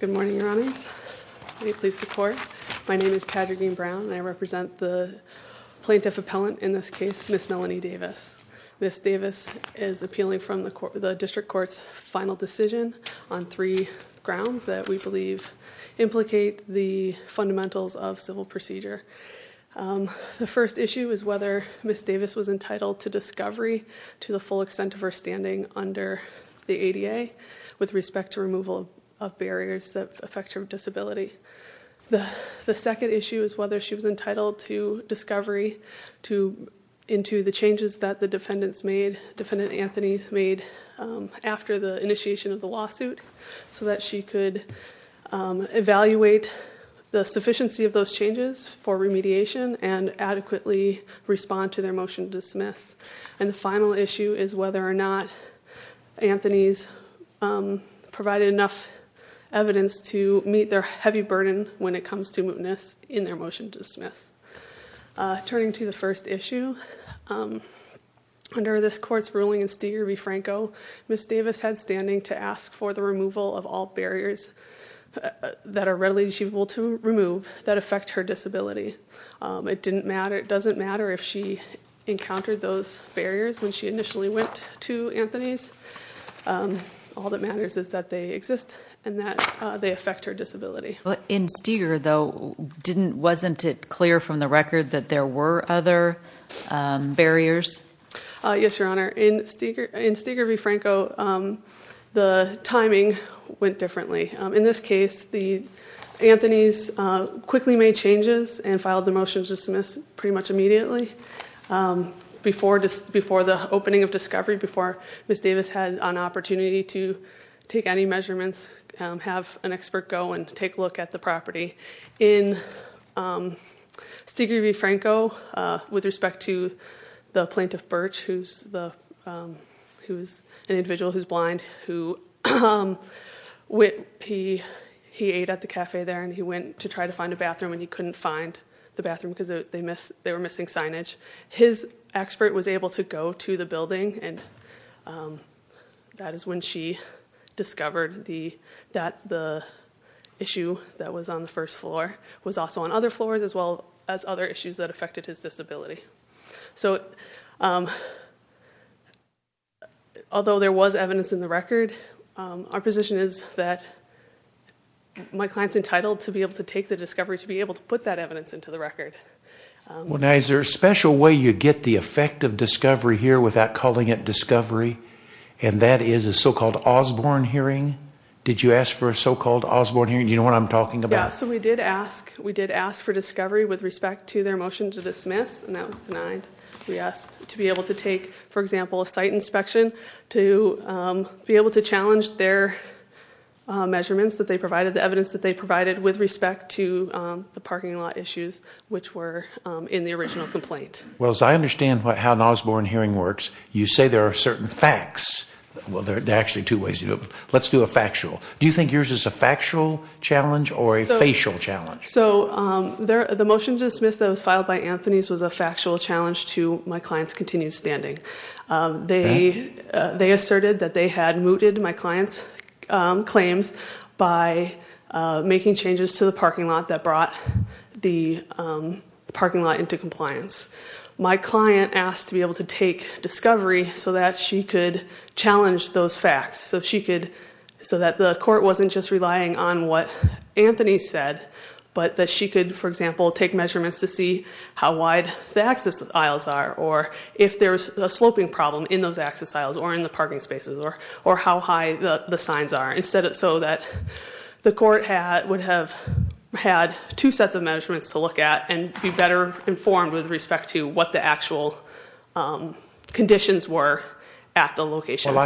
Good morning, Your Honors. Will you please support? My name is Patrick Dean Brown, and I represent the plaintiff appellant in this case, Ms. Melanie Davis. Ms. Davis is appealing from the District Court's final decision on three grounds that we believe implicate the fundamentals of civil procedure. The first issue is whether Ms. Davis was entitled to discovery to the full extent of her standing under the ADA with respect to removal of barriers that affect her disability. The second issue is whether she was entitled to discovery into the changes that the defendants made, Defendant Anthony's made after the initiation of the lawsuit so that she could evaluate the sufficiency of those changes for remediation and adequately respond to their motion to dismiss. And the final issue is whether or not Anthony's provided enough evidence to meet their heavy burden when it comes to mootness in their motion to dismiss. Turning to the first issue, under this court's ruling in Steger v. Franco, Ms. Davis had standing to ask for the removal of all barriers that are readily achievable to remove that affect her disability. It doesn't matter if she encountered those barriers when she initially went to Anthony's. All that matters is that they exist and that they affect her disability. In Steger, though, wasn't it clear from the record that there were other barriers? Yes, Your Honor. In Steger v. Franco, the timing went differently. In this case, Anthony's quickly made changes and filed the motion to dismiss pretty much immediately before the opening of discovery, before Ms. Davis had an opportunity to take any measurements, In Steger v. Franco, with respect to the plaintiff, Birch, who's an individual who's blind, he ate at the cafe there and he went to try to find a bathroom and he couldn't find the bathroom because they were missing signage. His expert was able to go to the building and that is when she discovered that the issue that was on the first floor was also on other floors as well as other issues that affected his disability. Although there was evidence in the record, our position is that my client's entitled to be able to take the discovery to be able to put that evidence into the record. Is there a special way you get the effect of discovery here without calling it discovery and that is a so-called Osborne hearing? Did you ask for a so-called Osborne hearing? Do you know what I'm talking about? We did ask for discovery with respect to their motion to dismiss and that was denied. We asked to be able to take, for example, a site inspection to be able to challenge their measurements that they provided, the evidence that they provided with respect to the parking lot issues which were in the original complaint. As I understand how an Osborne hearing works, you say there are certain facts. There are actually two ways to do it. Let's do a factual. Do you think yours is a factual challenge or a facial challenge? The motion to dismiss that was filed by Anthony's was a factual challenge to my client's continued standing. They asserted that they had mooted my client's claims by making changes to the parking lot that brought the parking lot into compliance. My client asked to be able to take discovery so that she could challenge those facts so that the court wasn't just relying on what Anthony said but that she could, for example, take measurements to see how wide the access aisles are or if there's a sloping problem in those access aisles or in the parking spaces or how high the signs are so that the court would have had two sets of I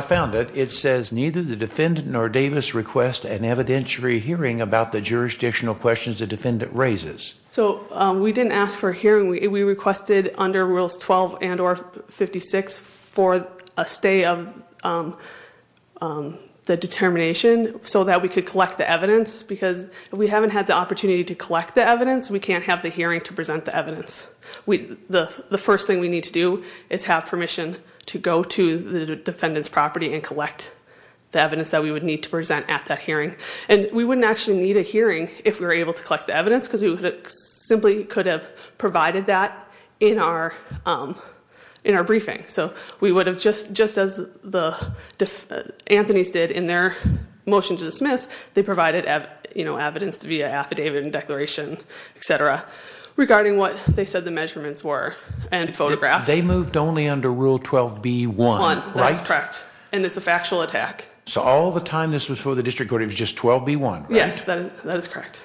found it. It says neither the defendant nor Davis request an evidentiary hearing about the jurisdictional questions the defendant raises. So we didn't ask for a hearing. We requested under rules 12 and or 56 for a stay of the determination so that we could collect the evidence because we haven't had the opportunity to collect the evidence. We can't have the hearing to present the evidence. The first thing we need to do is have permission to go to the defendant's property and collect the evidence that we would need to present at that hearing and we wouldn't actually need a hearing if we were able to collect the evidence because we simply could have provided that in our briefing. So we would have just as the Anthony's did in their motion to dismiss regarding what they said the measurements were and photographs. They moved only under rule 12 B1, right? Correct. And it's a factual attack. So all the time this was for the district court. It was just 12 B1. Yes, that is correct.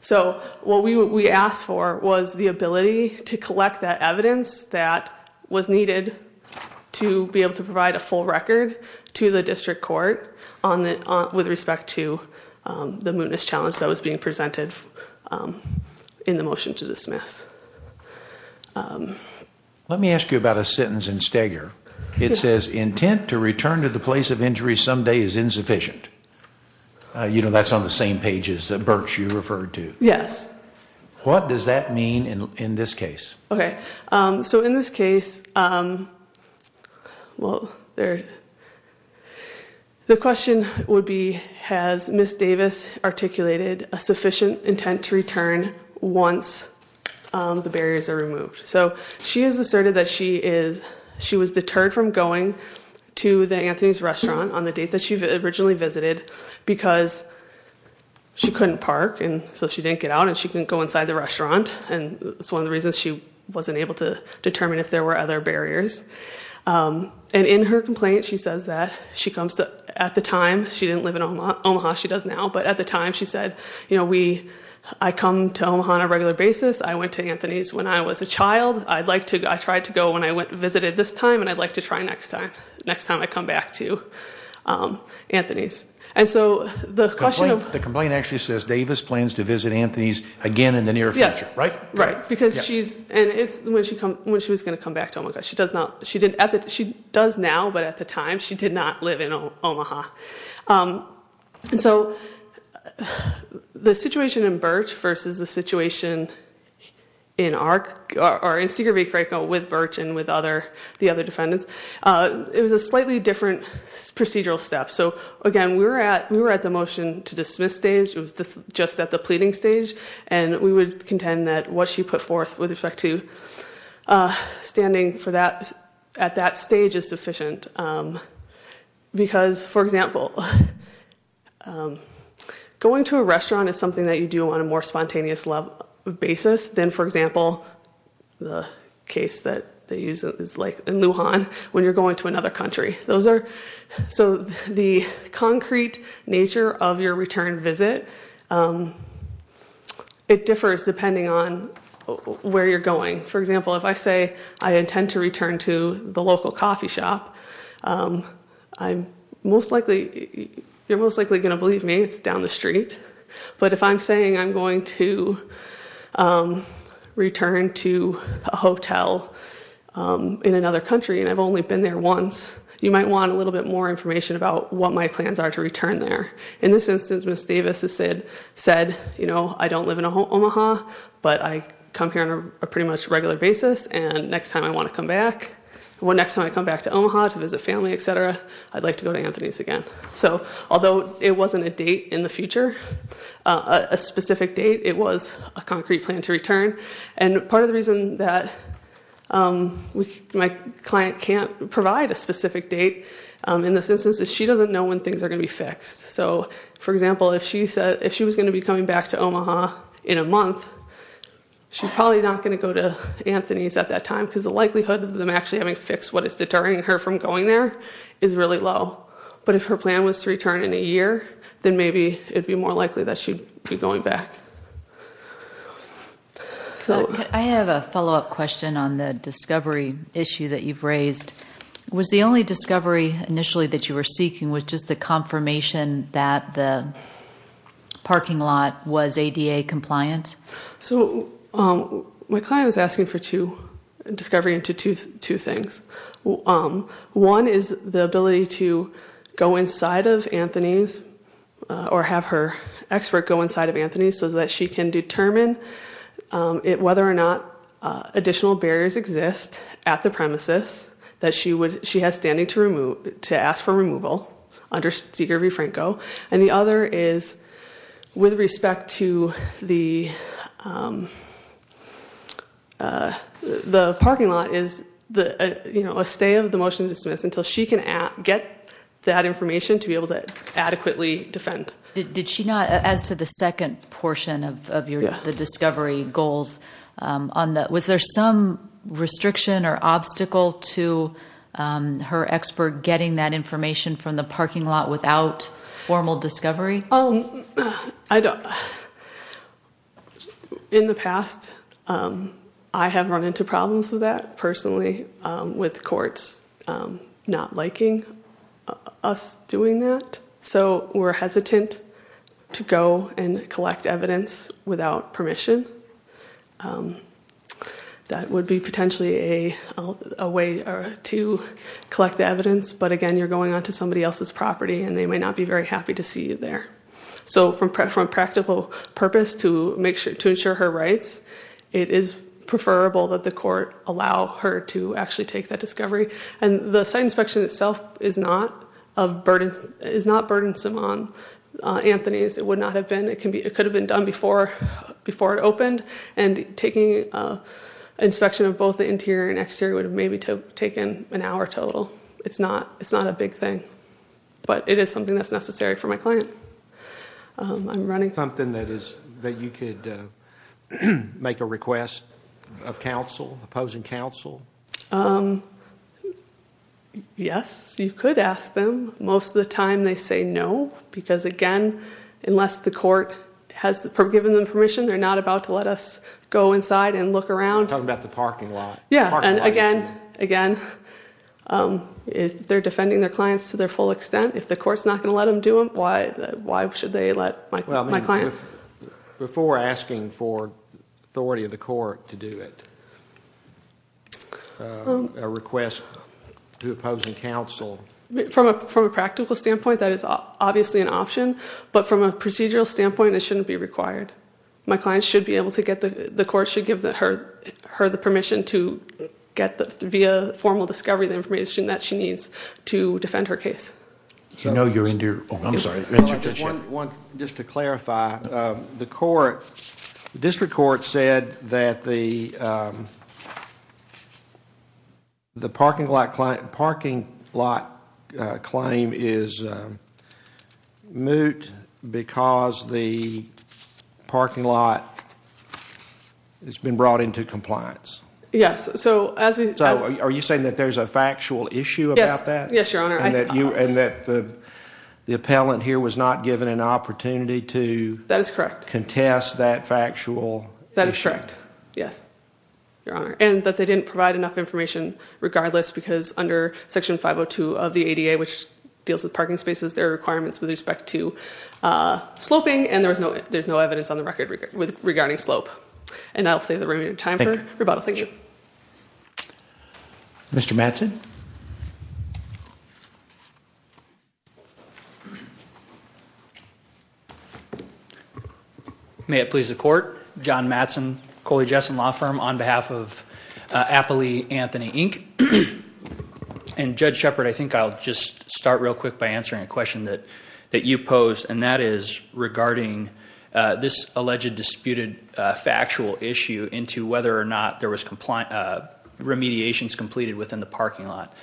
So what we asked for was the ability to collect that evidence that was needed to be able to provide a full record to the district court on that with respect to the mootness challenge that was being presented in the motion to dismiss. Let me ask you about a sentence in Steger. It says intent to return to the place of injury someday is insufficient. You know, that's on the same pages that Birch you referred to. Yes. What does that mean in this case? Okay. So in this case, well, there The question would be has Miss Davis articulated a sufficient intent to return once the barriers are removed so she is asserted that she is she was deterred from going to the Anthony's restaurant on the date that she originally visited because She couldn't park and so she didn't get out and she can go inside the restaurant and it's one of the reasons she wasn't able to determine if there were other barriers and in her complaint. She says that she comes to at the time. She didn't live in Omaha, Omaha. She does now but at the time she said, you know, we I come to Omaha on a regular basis. I went to Anthony's when I was a child. I'd like to I tried to go when I went visited this time and I'd like to try next time next time. I come back to Anthony's and so the question of the complaint actually says Davis plans to visit Anthony's again in the near future, right? Right because she's and it's when she come when she was going to come back She does not she did at that. She does now but at the time she did not live in Omaha. So the situation in Birch versus the situation in Arc or in secret with Birch and with other the other defendants. It was a slightly different procedural step. So again, we were at we were at the motion to dismiss stage was just at the pleading stage and we would contend that what she put forth with respect to standing for that at that stage is sufficient because for example, going to a restaurant is something that you do on a more spontaneous level of basis than for example, the case that they use is like in Lujan when you're going to another country. Those are so the concrete nature of your return visit. It differs depending on where you're going. For example, if I say I intend to return to the local coffee shop, I'm most likely you're most likely going to believe me. It's down the street. But if I'm saying I'm going to return to a hotel in another country and I've only been there once you might want a little bit more information about what my plans are to return there. In this instance, Miss Davis has said said, you know, I don't live in a whole Omaha, but I come here on a pretty much regular basis. And next time I want to come back when next time I come back to Omaha to visit family, etc. I'd like to go to Anthony's again. So although it wasn't a date in the future a specific date, it was a concrete plan to return and part of the reason that we my client can't provide a specific date in this instance is she doesn't know when things are going to be fixed. So for example, if she said if she was going to be coming back to Omaha in a month, she's probably not going to go to Anthony's at that time because the likelihood of them actually having fixed what is deterring her from going there is really low. But if her plan was to return in a year, then maybe it'd be more likely that she'd be going back. So I have a follow-up question on the discovery issue that you've raised was the only discovery initially that you were seeking was just the confirmation that the parking lot was ADA compliant. So my client is asking for two discovery into two things. One is the ability to go inside of Anthony's or have her expert go inside of Anthony's so that she can determine it whether or not additional barriers exist at the premises that she would she has standing to remove to ask for removal under Seeger V Franco and the other is with respect to the the parking lot is the you know, a stay of the motion to dismiss until she can get that information to be able to adequately defend did she not as to the second portion of your the discovery goals on that Is there some restriction or obstacle to her expert getting that information from the parking lot without formal discovery? Oh, I don't in the past. I have run into problems with that personally with courts not liking us doing that. So we're hesitant to go and collect evidence without permission. That would be potentially a way to collect the evidence. But again, you're going on to somebody else's property and they may not be very happy to see you there. So from practical purpose to make sure to ensure her rights. It is preferable that the court allow her to actually take that discovery and the site inspection itself is not of burden is not burdensome on Anthony's it would not have been it can be it could have been done before before it opened and taking inspection of both the interior and exterior would have maybe taken an hour total. It's not it's not a big thing, but it is something that's necessary for my client. I'm running something that is that you could make a request of counsel opposing counsel. Yes, you could ask them most of the time they say no because again, unless the court has given them permission. They're not about to let us go inside and look around talking about the parking lot. Yeah, and again again, if they're defending their clients to their full extent if the courts not going to let them do them. Why why should they let my client before asking for authority of the court to do it? A request to opposing counsel from a practical standpoint that is obviously an option but from a procedural standpoint. It shouldn't be required. My clients should be able to get the the court should give that her her the permission to get the via formal discovery the information that she needs to defend her case. You know, you're in dear. I'm sorry. I just want one just to clarify the court district court said that the The parking lot client parking lot claim is moot because the parking lot has been brought into compliance. Yes. So as we are you saying that there's a factual issue about that? Yes, your honor. I that you and that the the appellant here was not given an opportunity to that is correct contest that factual that is correct. Yes, your honor. And that they didn't provide enough information regardless because under section 502 of the ADA which deals with parking spaces their requirements with respect to sloping and there was no there's no evidence on the record with regarding slope and I'll say the remaining time for rebuttal. Thank you. Mr. Mattson. May it please the court John Mattson Coley Jessen law firm on behalf of Appley Anthony Inc. And Judge Shepard. I think I'll just start real quick by answering a question that that you pose and that is regarding this alleged disputed factual issue into whether or not there was compliant remediations completed within the parking lot.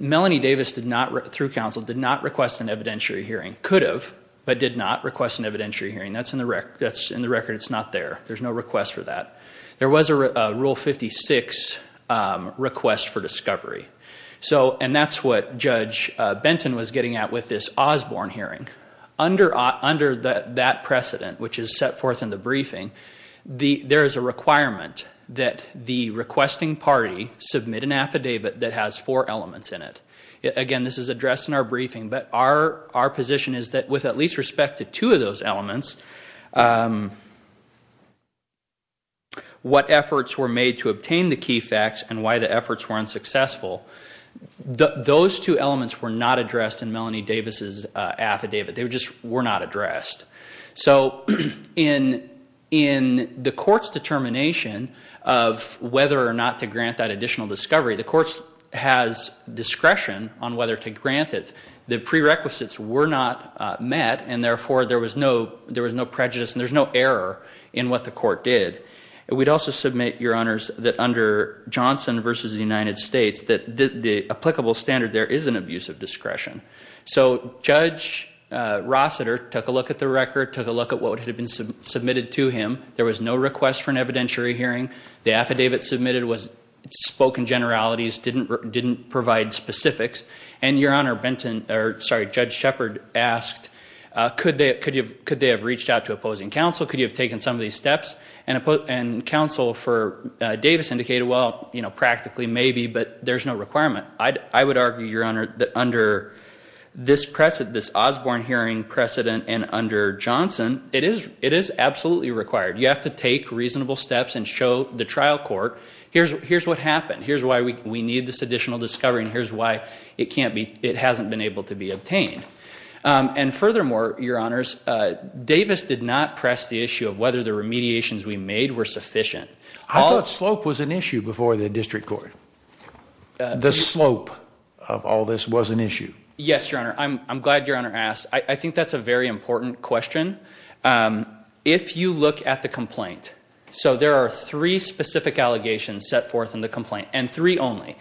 Melanie Davis did not through counsel did not request an evidentiary hearing could have but did not request an evidentiary hearing that's in the wreck. That's in the record. It's not there. There's no request for that. There was a rule 56 request for discovery. So and that's what Judge Benton was getting at with this Osborne hearing under under that precedent, which is set forth in the briefing the there is a requirement that the requesting party submit an affidavit that has four elements in it again. This is addressed in our briefing, but our our position is that with at least respect to two of those elements. What efforts were made to obtain the key facts and why the efforts were unsuccessful. Those two elements were not addressed in Melanie Davis's affidavit. They were just were not addressed. So in in the courts determination of whether or not to grant that additional discovery the courts has discretion on whether to grant it the prerequisites were not met and therefore there was no there was no prejudice and there's no error in what the court did. We'd also submit your honors that under Johnson versus the United States that the applicable standard there is an abuse of discretion. So Judge Rossiter took a look at the record took a look at what would have been submitted to him. There was no request for an evidentiary hearing. The affidavit submitted was spoken generalities didn't didn't provide specifics and your honor Benton or sorry, Judge Shepherd asked could they could you could they have reached out to opposing counsel could you have taken some of these steps and a put and counsel for Davis indicated? Well, you know practically maybe but there's no requirement. I would argue your honor that under this precedent this Osborne hearing precedent and under Johnson it is it is absolutely required. You have to take reasonable steps and show the trial court. Here's here's what happened. Here's why we need this additional discovery and here's why it can't be it hasn't been able to be obtained and furthermore your honors Davis did not press the issue of whether the remediations we made were sufficient. I thought slope was an issue before the district court the slope of all this was an issue. Yes, your honor. I'm glad your honor asked. I think that's a very important question. If you look at the complaint, so there are three specific allegations set forth in the complaint and three only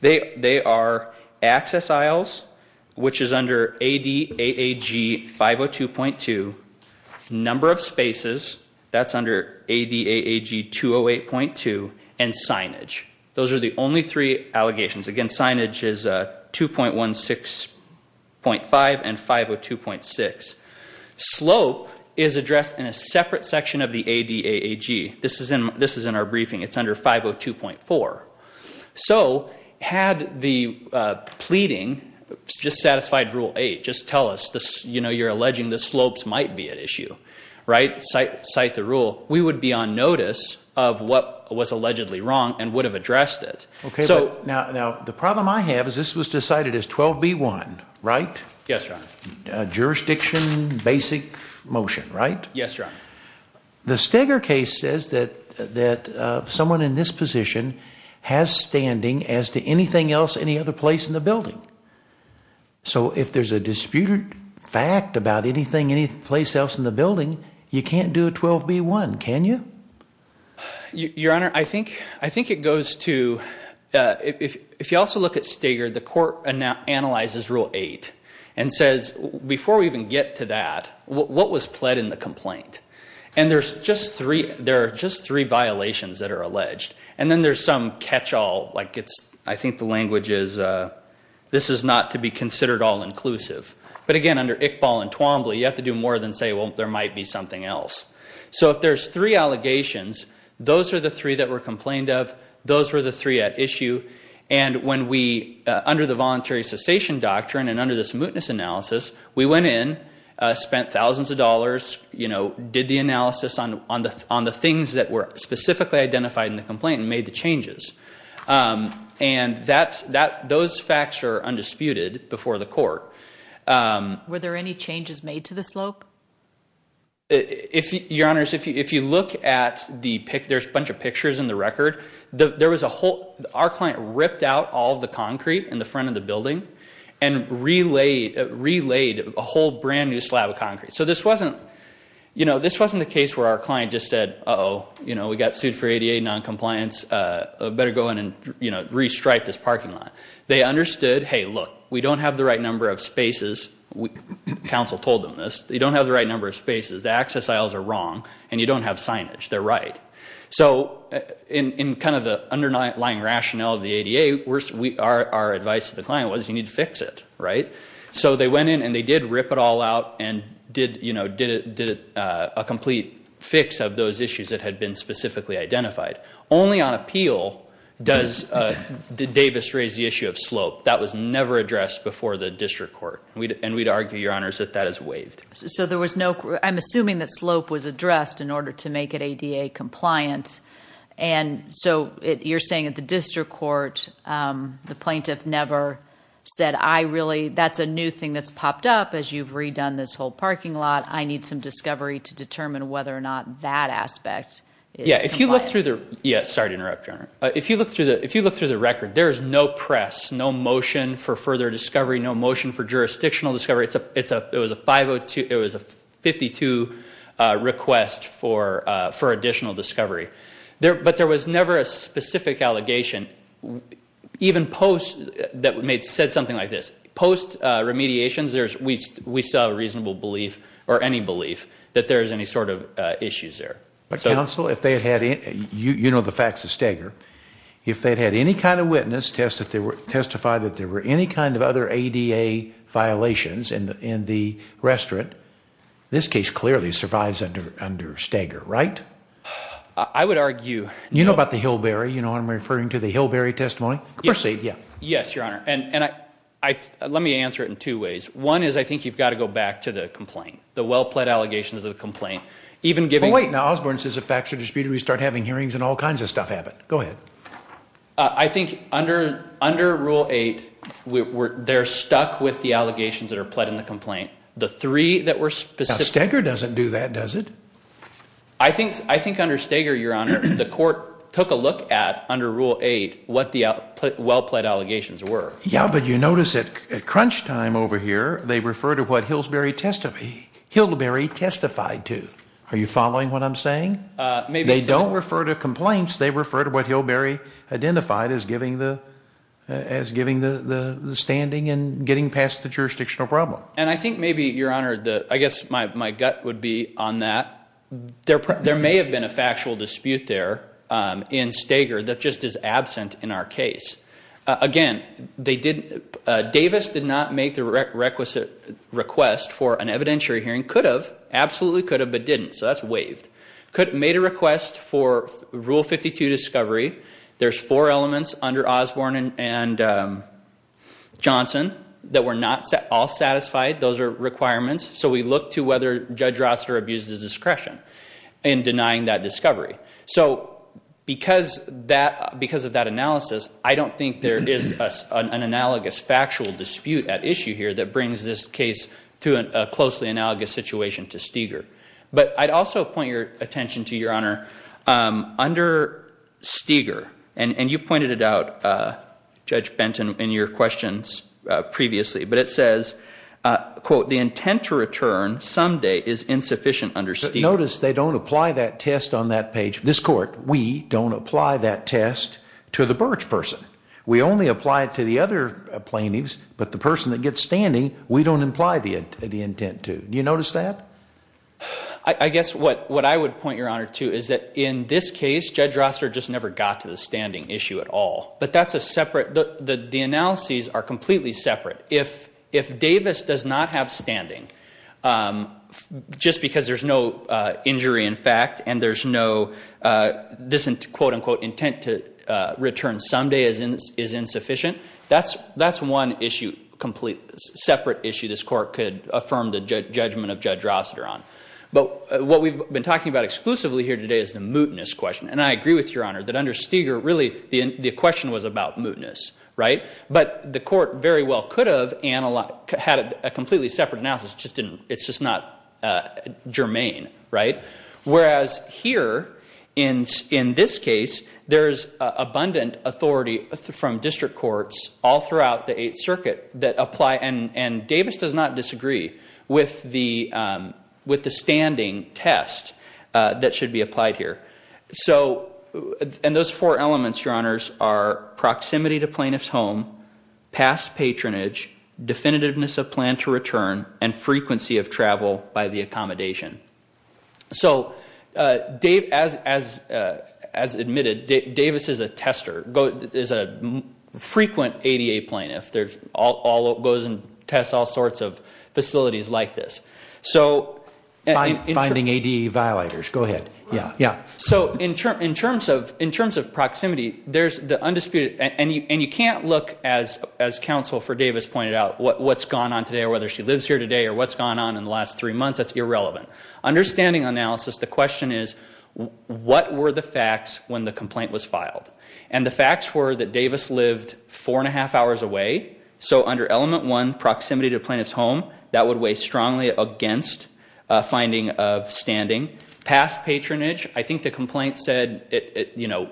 they are access aisles, which is under a DAG 502.2 number of spaces that's under a DAG 208.2 and signage. Those are the only three allegations again signage is a 2.1 6.5 and 502.6 slope is addressed in a separate section of the a DAG. This is in this is in our briefing. It's under 502.4. So had the pleading just satisfied rule eight just tell us this, you know, you're alleging the slopes might be at issue right site site the rule we would be on notice of what was allegedly wrong and would have addressed it. Okay. So now now the problem I have is this was decided as 12 b1, right? Yes, your honor. Jurisdiction basic motion, right? Yes, your honor. The Steger case says that that someone in this position has standing as to anything else any other place in the building. So if there's a disputed fact about anything any place else in the building, you can't do a 12 b1. Can you your honor? I think I think it goes to if you also look at Steger the court and now analyzes rule eight and says before we even get to that what was pled in the complaint and there's just three there are just three violations that are alleged and then there's some catch-all like it's I think the language is this is not to be considered all inclusive. But again under Iqbal and Twombly you have to do more than say. Well, there might be something else. So if there's three allegations, those are the three that were complained of those were the three at issue and when we under the voluntary cessation doctrine and under this mootness analysis, we went in spent thousands of dollars, you know did the analysis on the on the things that were specifically identified in the complaint and made the changes and that's that those facts are undisputed before the court. Were there any changes made to the slope? If your honors if you if you look at the pic, there's a bunch of pictures in the record. There was a whole our client ripped out all the concrete in the front of the building and relayed relayed a whole brand new slab of concrete. So this wasn't, you know, this wasn't the case where our client just said, oh, you know, we got sued for ADA non-compliance better go in and you know, restripe this parking lot. They understood. Hey, look, we don't have the right number of spaces. Council told them this they don't have the right number of spaces. The access aisles are wrong and you don't have signage. They're right. So in kind of the underlying rationale of the ADA worst. We are our advice to the client was you need to fix it, right? So they went in and they did rip it all out and did you know, did it did it a complete fix of those issues that had been specifically identified only on appeal does the Davis raise the issue of slope that was never addressed before the district court and we'd argue your honors that that is waived. So there was no I'm assuming that slope was addressed in order to make it ADA compliant. And so it you're saying at the district court the plaintiff never said I really that's a new thing. That's popped up as you've redone this whole parking lot. I need some discovery to determine whether or not that aspect. Yeah, if you look through the yes, sorry to interrupt your honor. If you look through the if you look through the record, there is no press no motion for further discovery. No motion for jurisdictional discovery. It's a it's a it was a 502. It was a 52 request for for additional discovery there, but there was never a There's we we still have a reasonable belief or any belief that there's any sort of issues there. But counsel if they had it, you know, the facts of stagger if they'd had any kind of witness test that they were testified that there were any kind of other ADA violations in the in the restaurant this case clearly survives under under stagger, right? I would argue, you know about the hillberry, you know, I'm referring to the hillberry testimony proceed. Yeah. Yes, your honor. And and I let me answer it in two ways. One is I think you've got to go back to the complaint the well-pled allegations of the complaint even giving wait now Osborne says a factual disputed. We start having hearings and all kinds of stuff happen. Go ahead. I think under under rule 8 we're they're stuck with the allegations that are pled in the complaint the three that were specific. Edgar doesn't do that. Does it? I think I think under stagger your honor the court took a look at under rule 8 what the output well-pled allegations were. Yeah, but you notice it at crunch time over here. They refer to what Hillsbury test of a hillberry testified to are you following what I'm saying? Maybe they don't refer to complaints. They refer to what hillberry identified as giving the as giving the standing and getting past the jurisdictional problem. And I think maybe your honor the I guess my gut would be on that. They're probably there may have been a factual dispute there in stagger. That just is absent in our case again. They didn't Davis did not make the requisite request for an evidentiary hearing could have absolutely could have but didn't so that's waived could made a request for rule 52 discovery. There's 4 elements under Osborne and Johnson that were not set all satisfied. Those are requirements. So we look to whether judge roster abuses discretion in denying that because of that analysis. I don't think there is an analogous factual dispute at issue here that brings this case to a closely analogous situation to Steger, but I'd also point your attention to your honor under Steger and and you pointed it out judge Benton in your questions previously, but it says quote the intent to return someday is insufficient under Steve notice. They don't apply that test on that page this court. We don't apply that test to the birch person. We only apply it to the other plaintiffs, but the person that gets standing we don't imply the end of the intent to you notice that I guess what what I would point your honor to is that in this case judge roster just never got to the standing issue at all, but that's a separate the analyses are completely separate if if Davis does not have standing just because there's no injury in fact, and there's no this into quote-unquote intent to return someday as in is insufficient. That's that's one issue complete separate issue. This court could affirm the judgment of judge roster on but what we've been talking about exclusively here today is the mootness question and I agree with your honor that under Steger really the question was about mootness, right? But the court very well could have analog had a completely separate analysis just didn't it's just not germane, right? Whereas here in in this case, there's abundant Authority from District Courts all throughout the Eighth Circuit that apply and and Davis does not disagree with the with the standing test that should be applied here. So and those four elements your honors are proximity to plaintiff's home past patronage definitiveness of plan to return and frequency of travel by the accommodation. So Dave as as as admitted Davis is a tester go is a frequent ADA plaintiff. There's all goes and tests all sorts of facilities like this. So I'm finding ad violators. Go ahead. Yeah. Yeah. So in term in terms of in terms of proximity, there's the undisputed and you and you can't look as as counsel for Davis pointed out what's gone on today or whether she lives here today or what's gone on in the last three months. That's irrelevant understanding analysis. The question is what were the facts when the complaint was filed and the facts were that Davis lived four and a half hours away. So under element one proximity to plaintiff's home that would weigh strongly against finding of standing past patronage. I think the complaint said it, you know,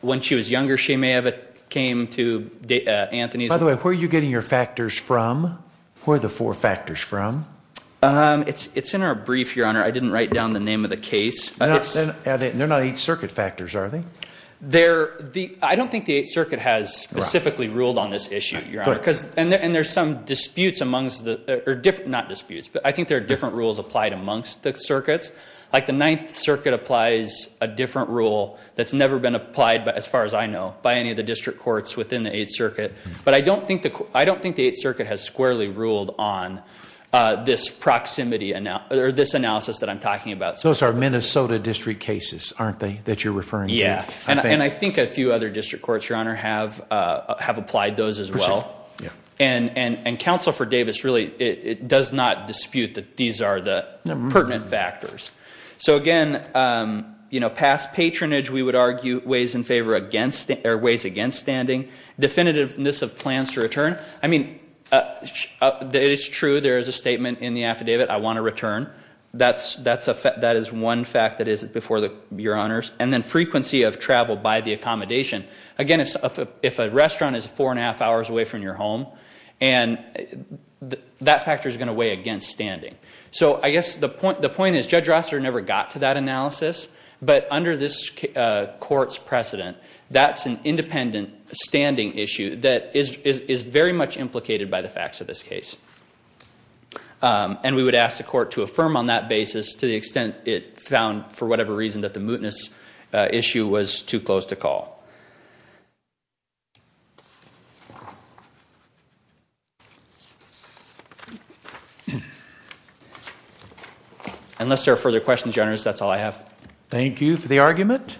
when she was younger, she may have it came to Anthony's by the way, where you getting your factors from where the four factors from it's it's in our brief your honor. I didn't write down the name of the case, but it's they're not each circuit factors. Are they there the I don't think the 8th Circuit has specifically ruled on this issue because and there's some disputes amongst the different not disputes, but I think there are different rules applied amongst the circuits like the 9th Circuit applies a different rule that's By any of the district courts within the 8th Circuit, but I don't think the I don't think the 8th Circuit has squarely ruled on this proximity and now there this analysis that I'm talking about. So it's our Minnesota district cases aren't they that you're referring Yes, and I think a few other district courts your honor have have applied those as well and and and counsel for Davis really it does not dispute that. These are the pertinent factors. So again, you know past patronage we would argue ways in favor against the airways against standing definitiveness of plans to return. I mean, it's true. There is a statement in the affidavit. I want to return that's that's a fact that is one fact that is before the your honors and then frequency of travel by the accommodation again, if a restaurant is four and a half hours away from your home and that factor is going to weigh against standing. So I guess the point the point is judge Rosser never got to that Independent standing issue that is very much implicated by the facts of this case and we would ask the court to affirm on that basis to the extent it found for whatever reason that the mootness issue was too close to call. Unless there are further questions your honor. Thank you for the argument.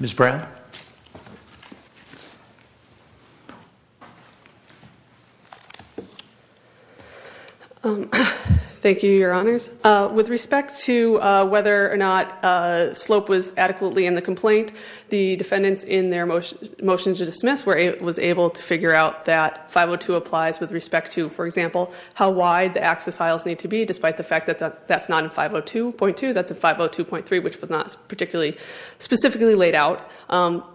Miss Brown. Thank you your honors with respect to whether or not slope was adequately in the complaint the defendants in their motion motion to dismiss where it was able to figure out that 502 applies with respect to for example, how wide the access aisles need to be despite the fact that that's not in 502.2. That's a 502.3 which was not particularly specifically laid out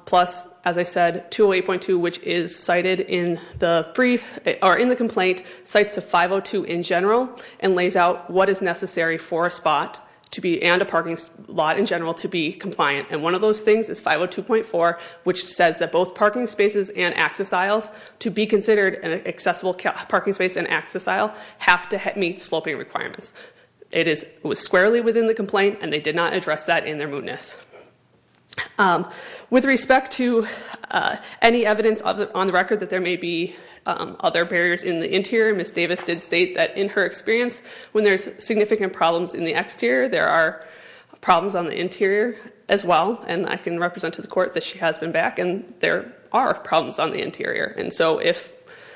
plus as I said 208.2 which is cited in the brief or in the complaint sites to 502 in general and lays out what is necessary for a spot to be and a parking lot in general to be compliant and one of those things is 502.4 which says that both parking spaces and access aisles to be considered an accessible parking space and access aisle have to have meet sloping requirements. It is was squarely within the complaint and they did not address that in their mootness with respect to any evidence of it on the record that there may be other barriers in the interior miss Davis did state that in her experience when there's significant problems in the exterior. There are problems on the interior as well and I can represent to the court that she has been back and there are problems on the interior. And so if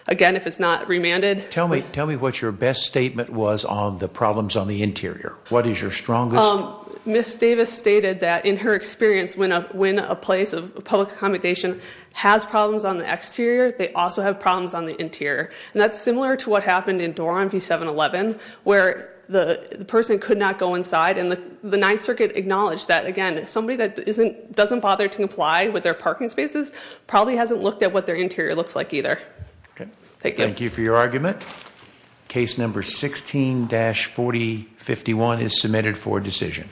again, if it's not remanded tell me tell me what your best statement was on the problems on the interior. What is your strongest miss Davis stated that in her experience when a when a place of public accommodation has problems on the exterior. They also have problems on the interior and that's similar to what happened in dorm V 7-eleven where the person could not go inside and the 9th Circuit acknowledged that again somebody that isn't doesn't bother to comply with their parking spaces probably hasn't looked at what their interior looks like either. Okay. Thank you. Thank you for your argument. Case number 16-4051 is submitted for decision.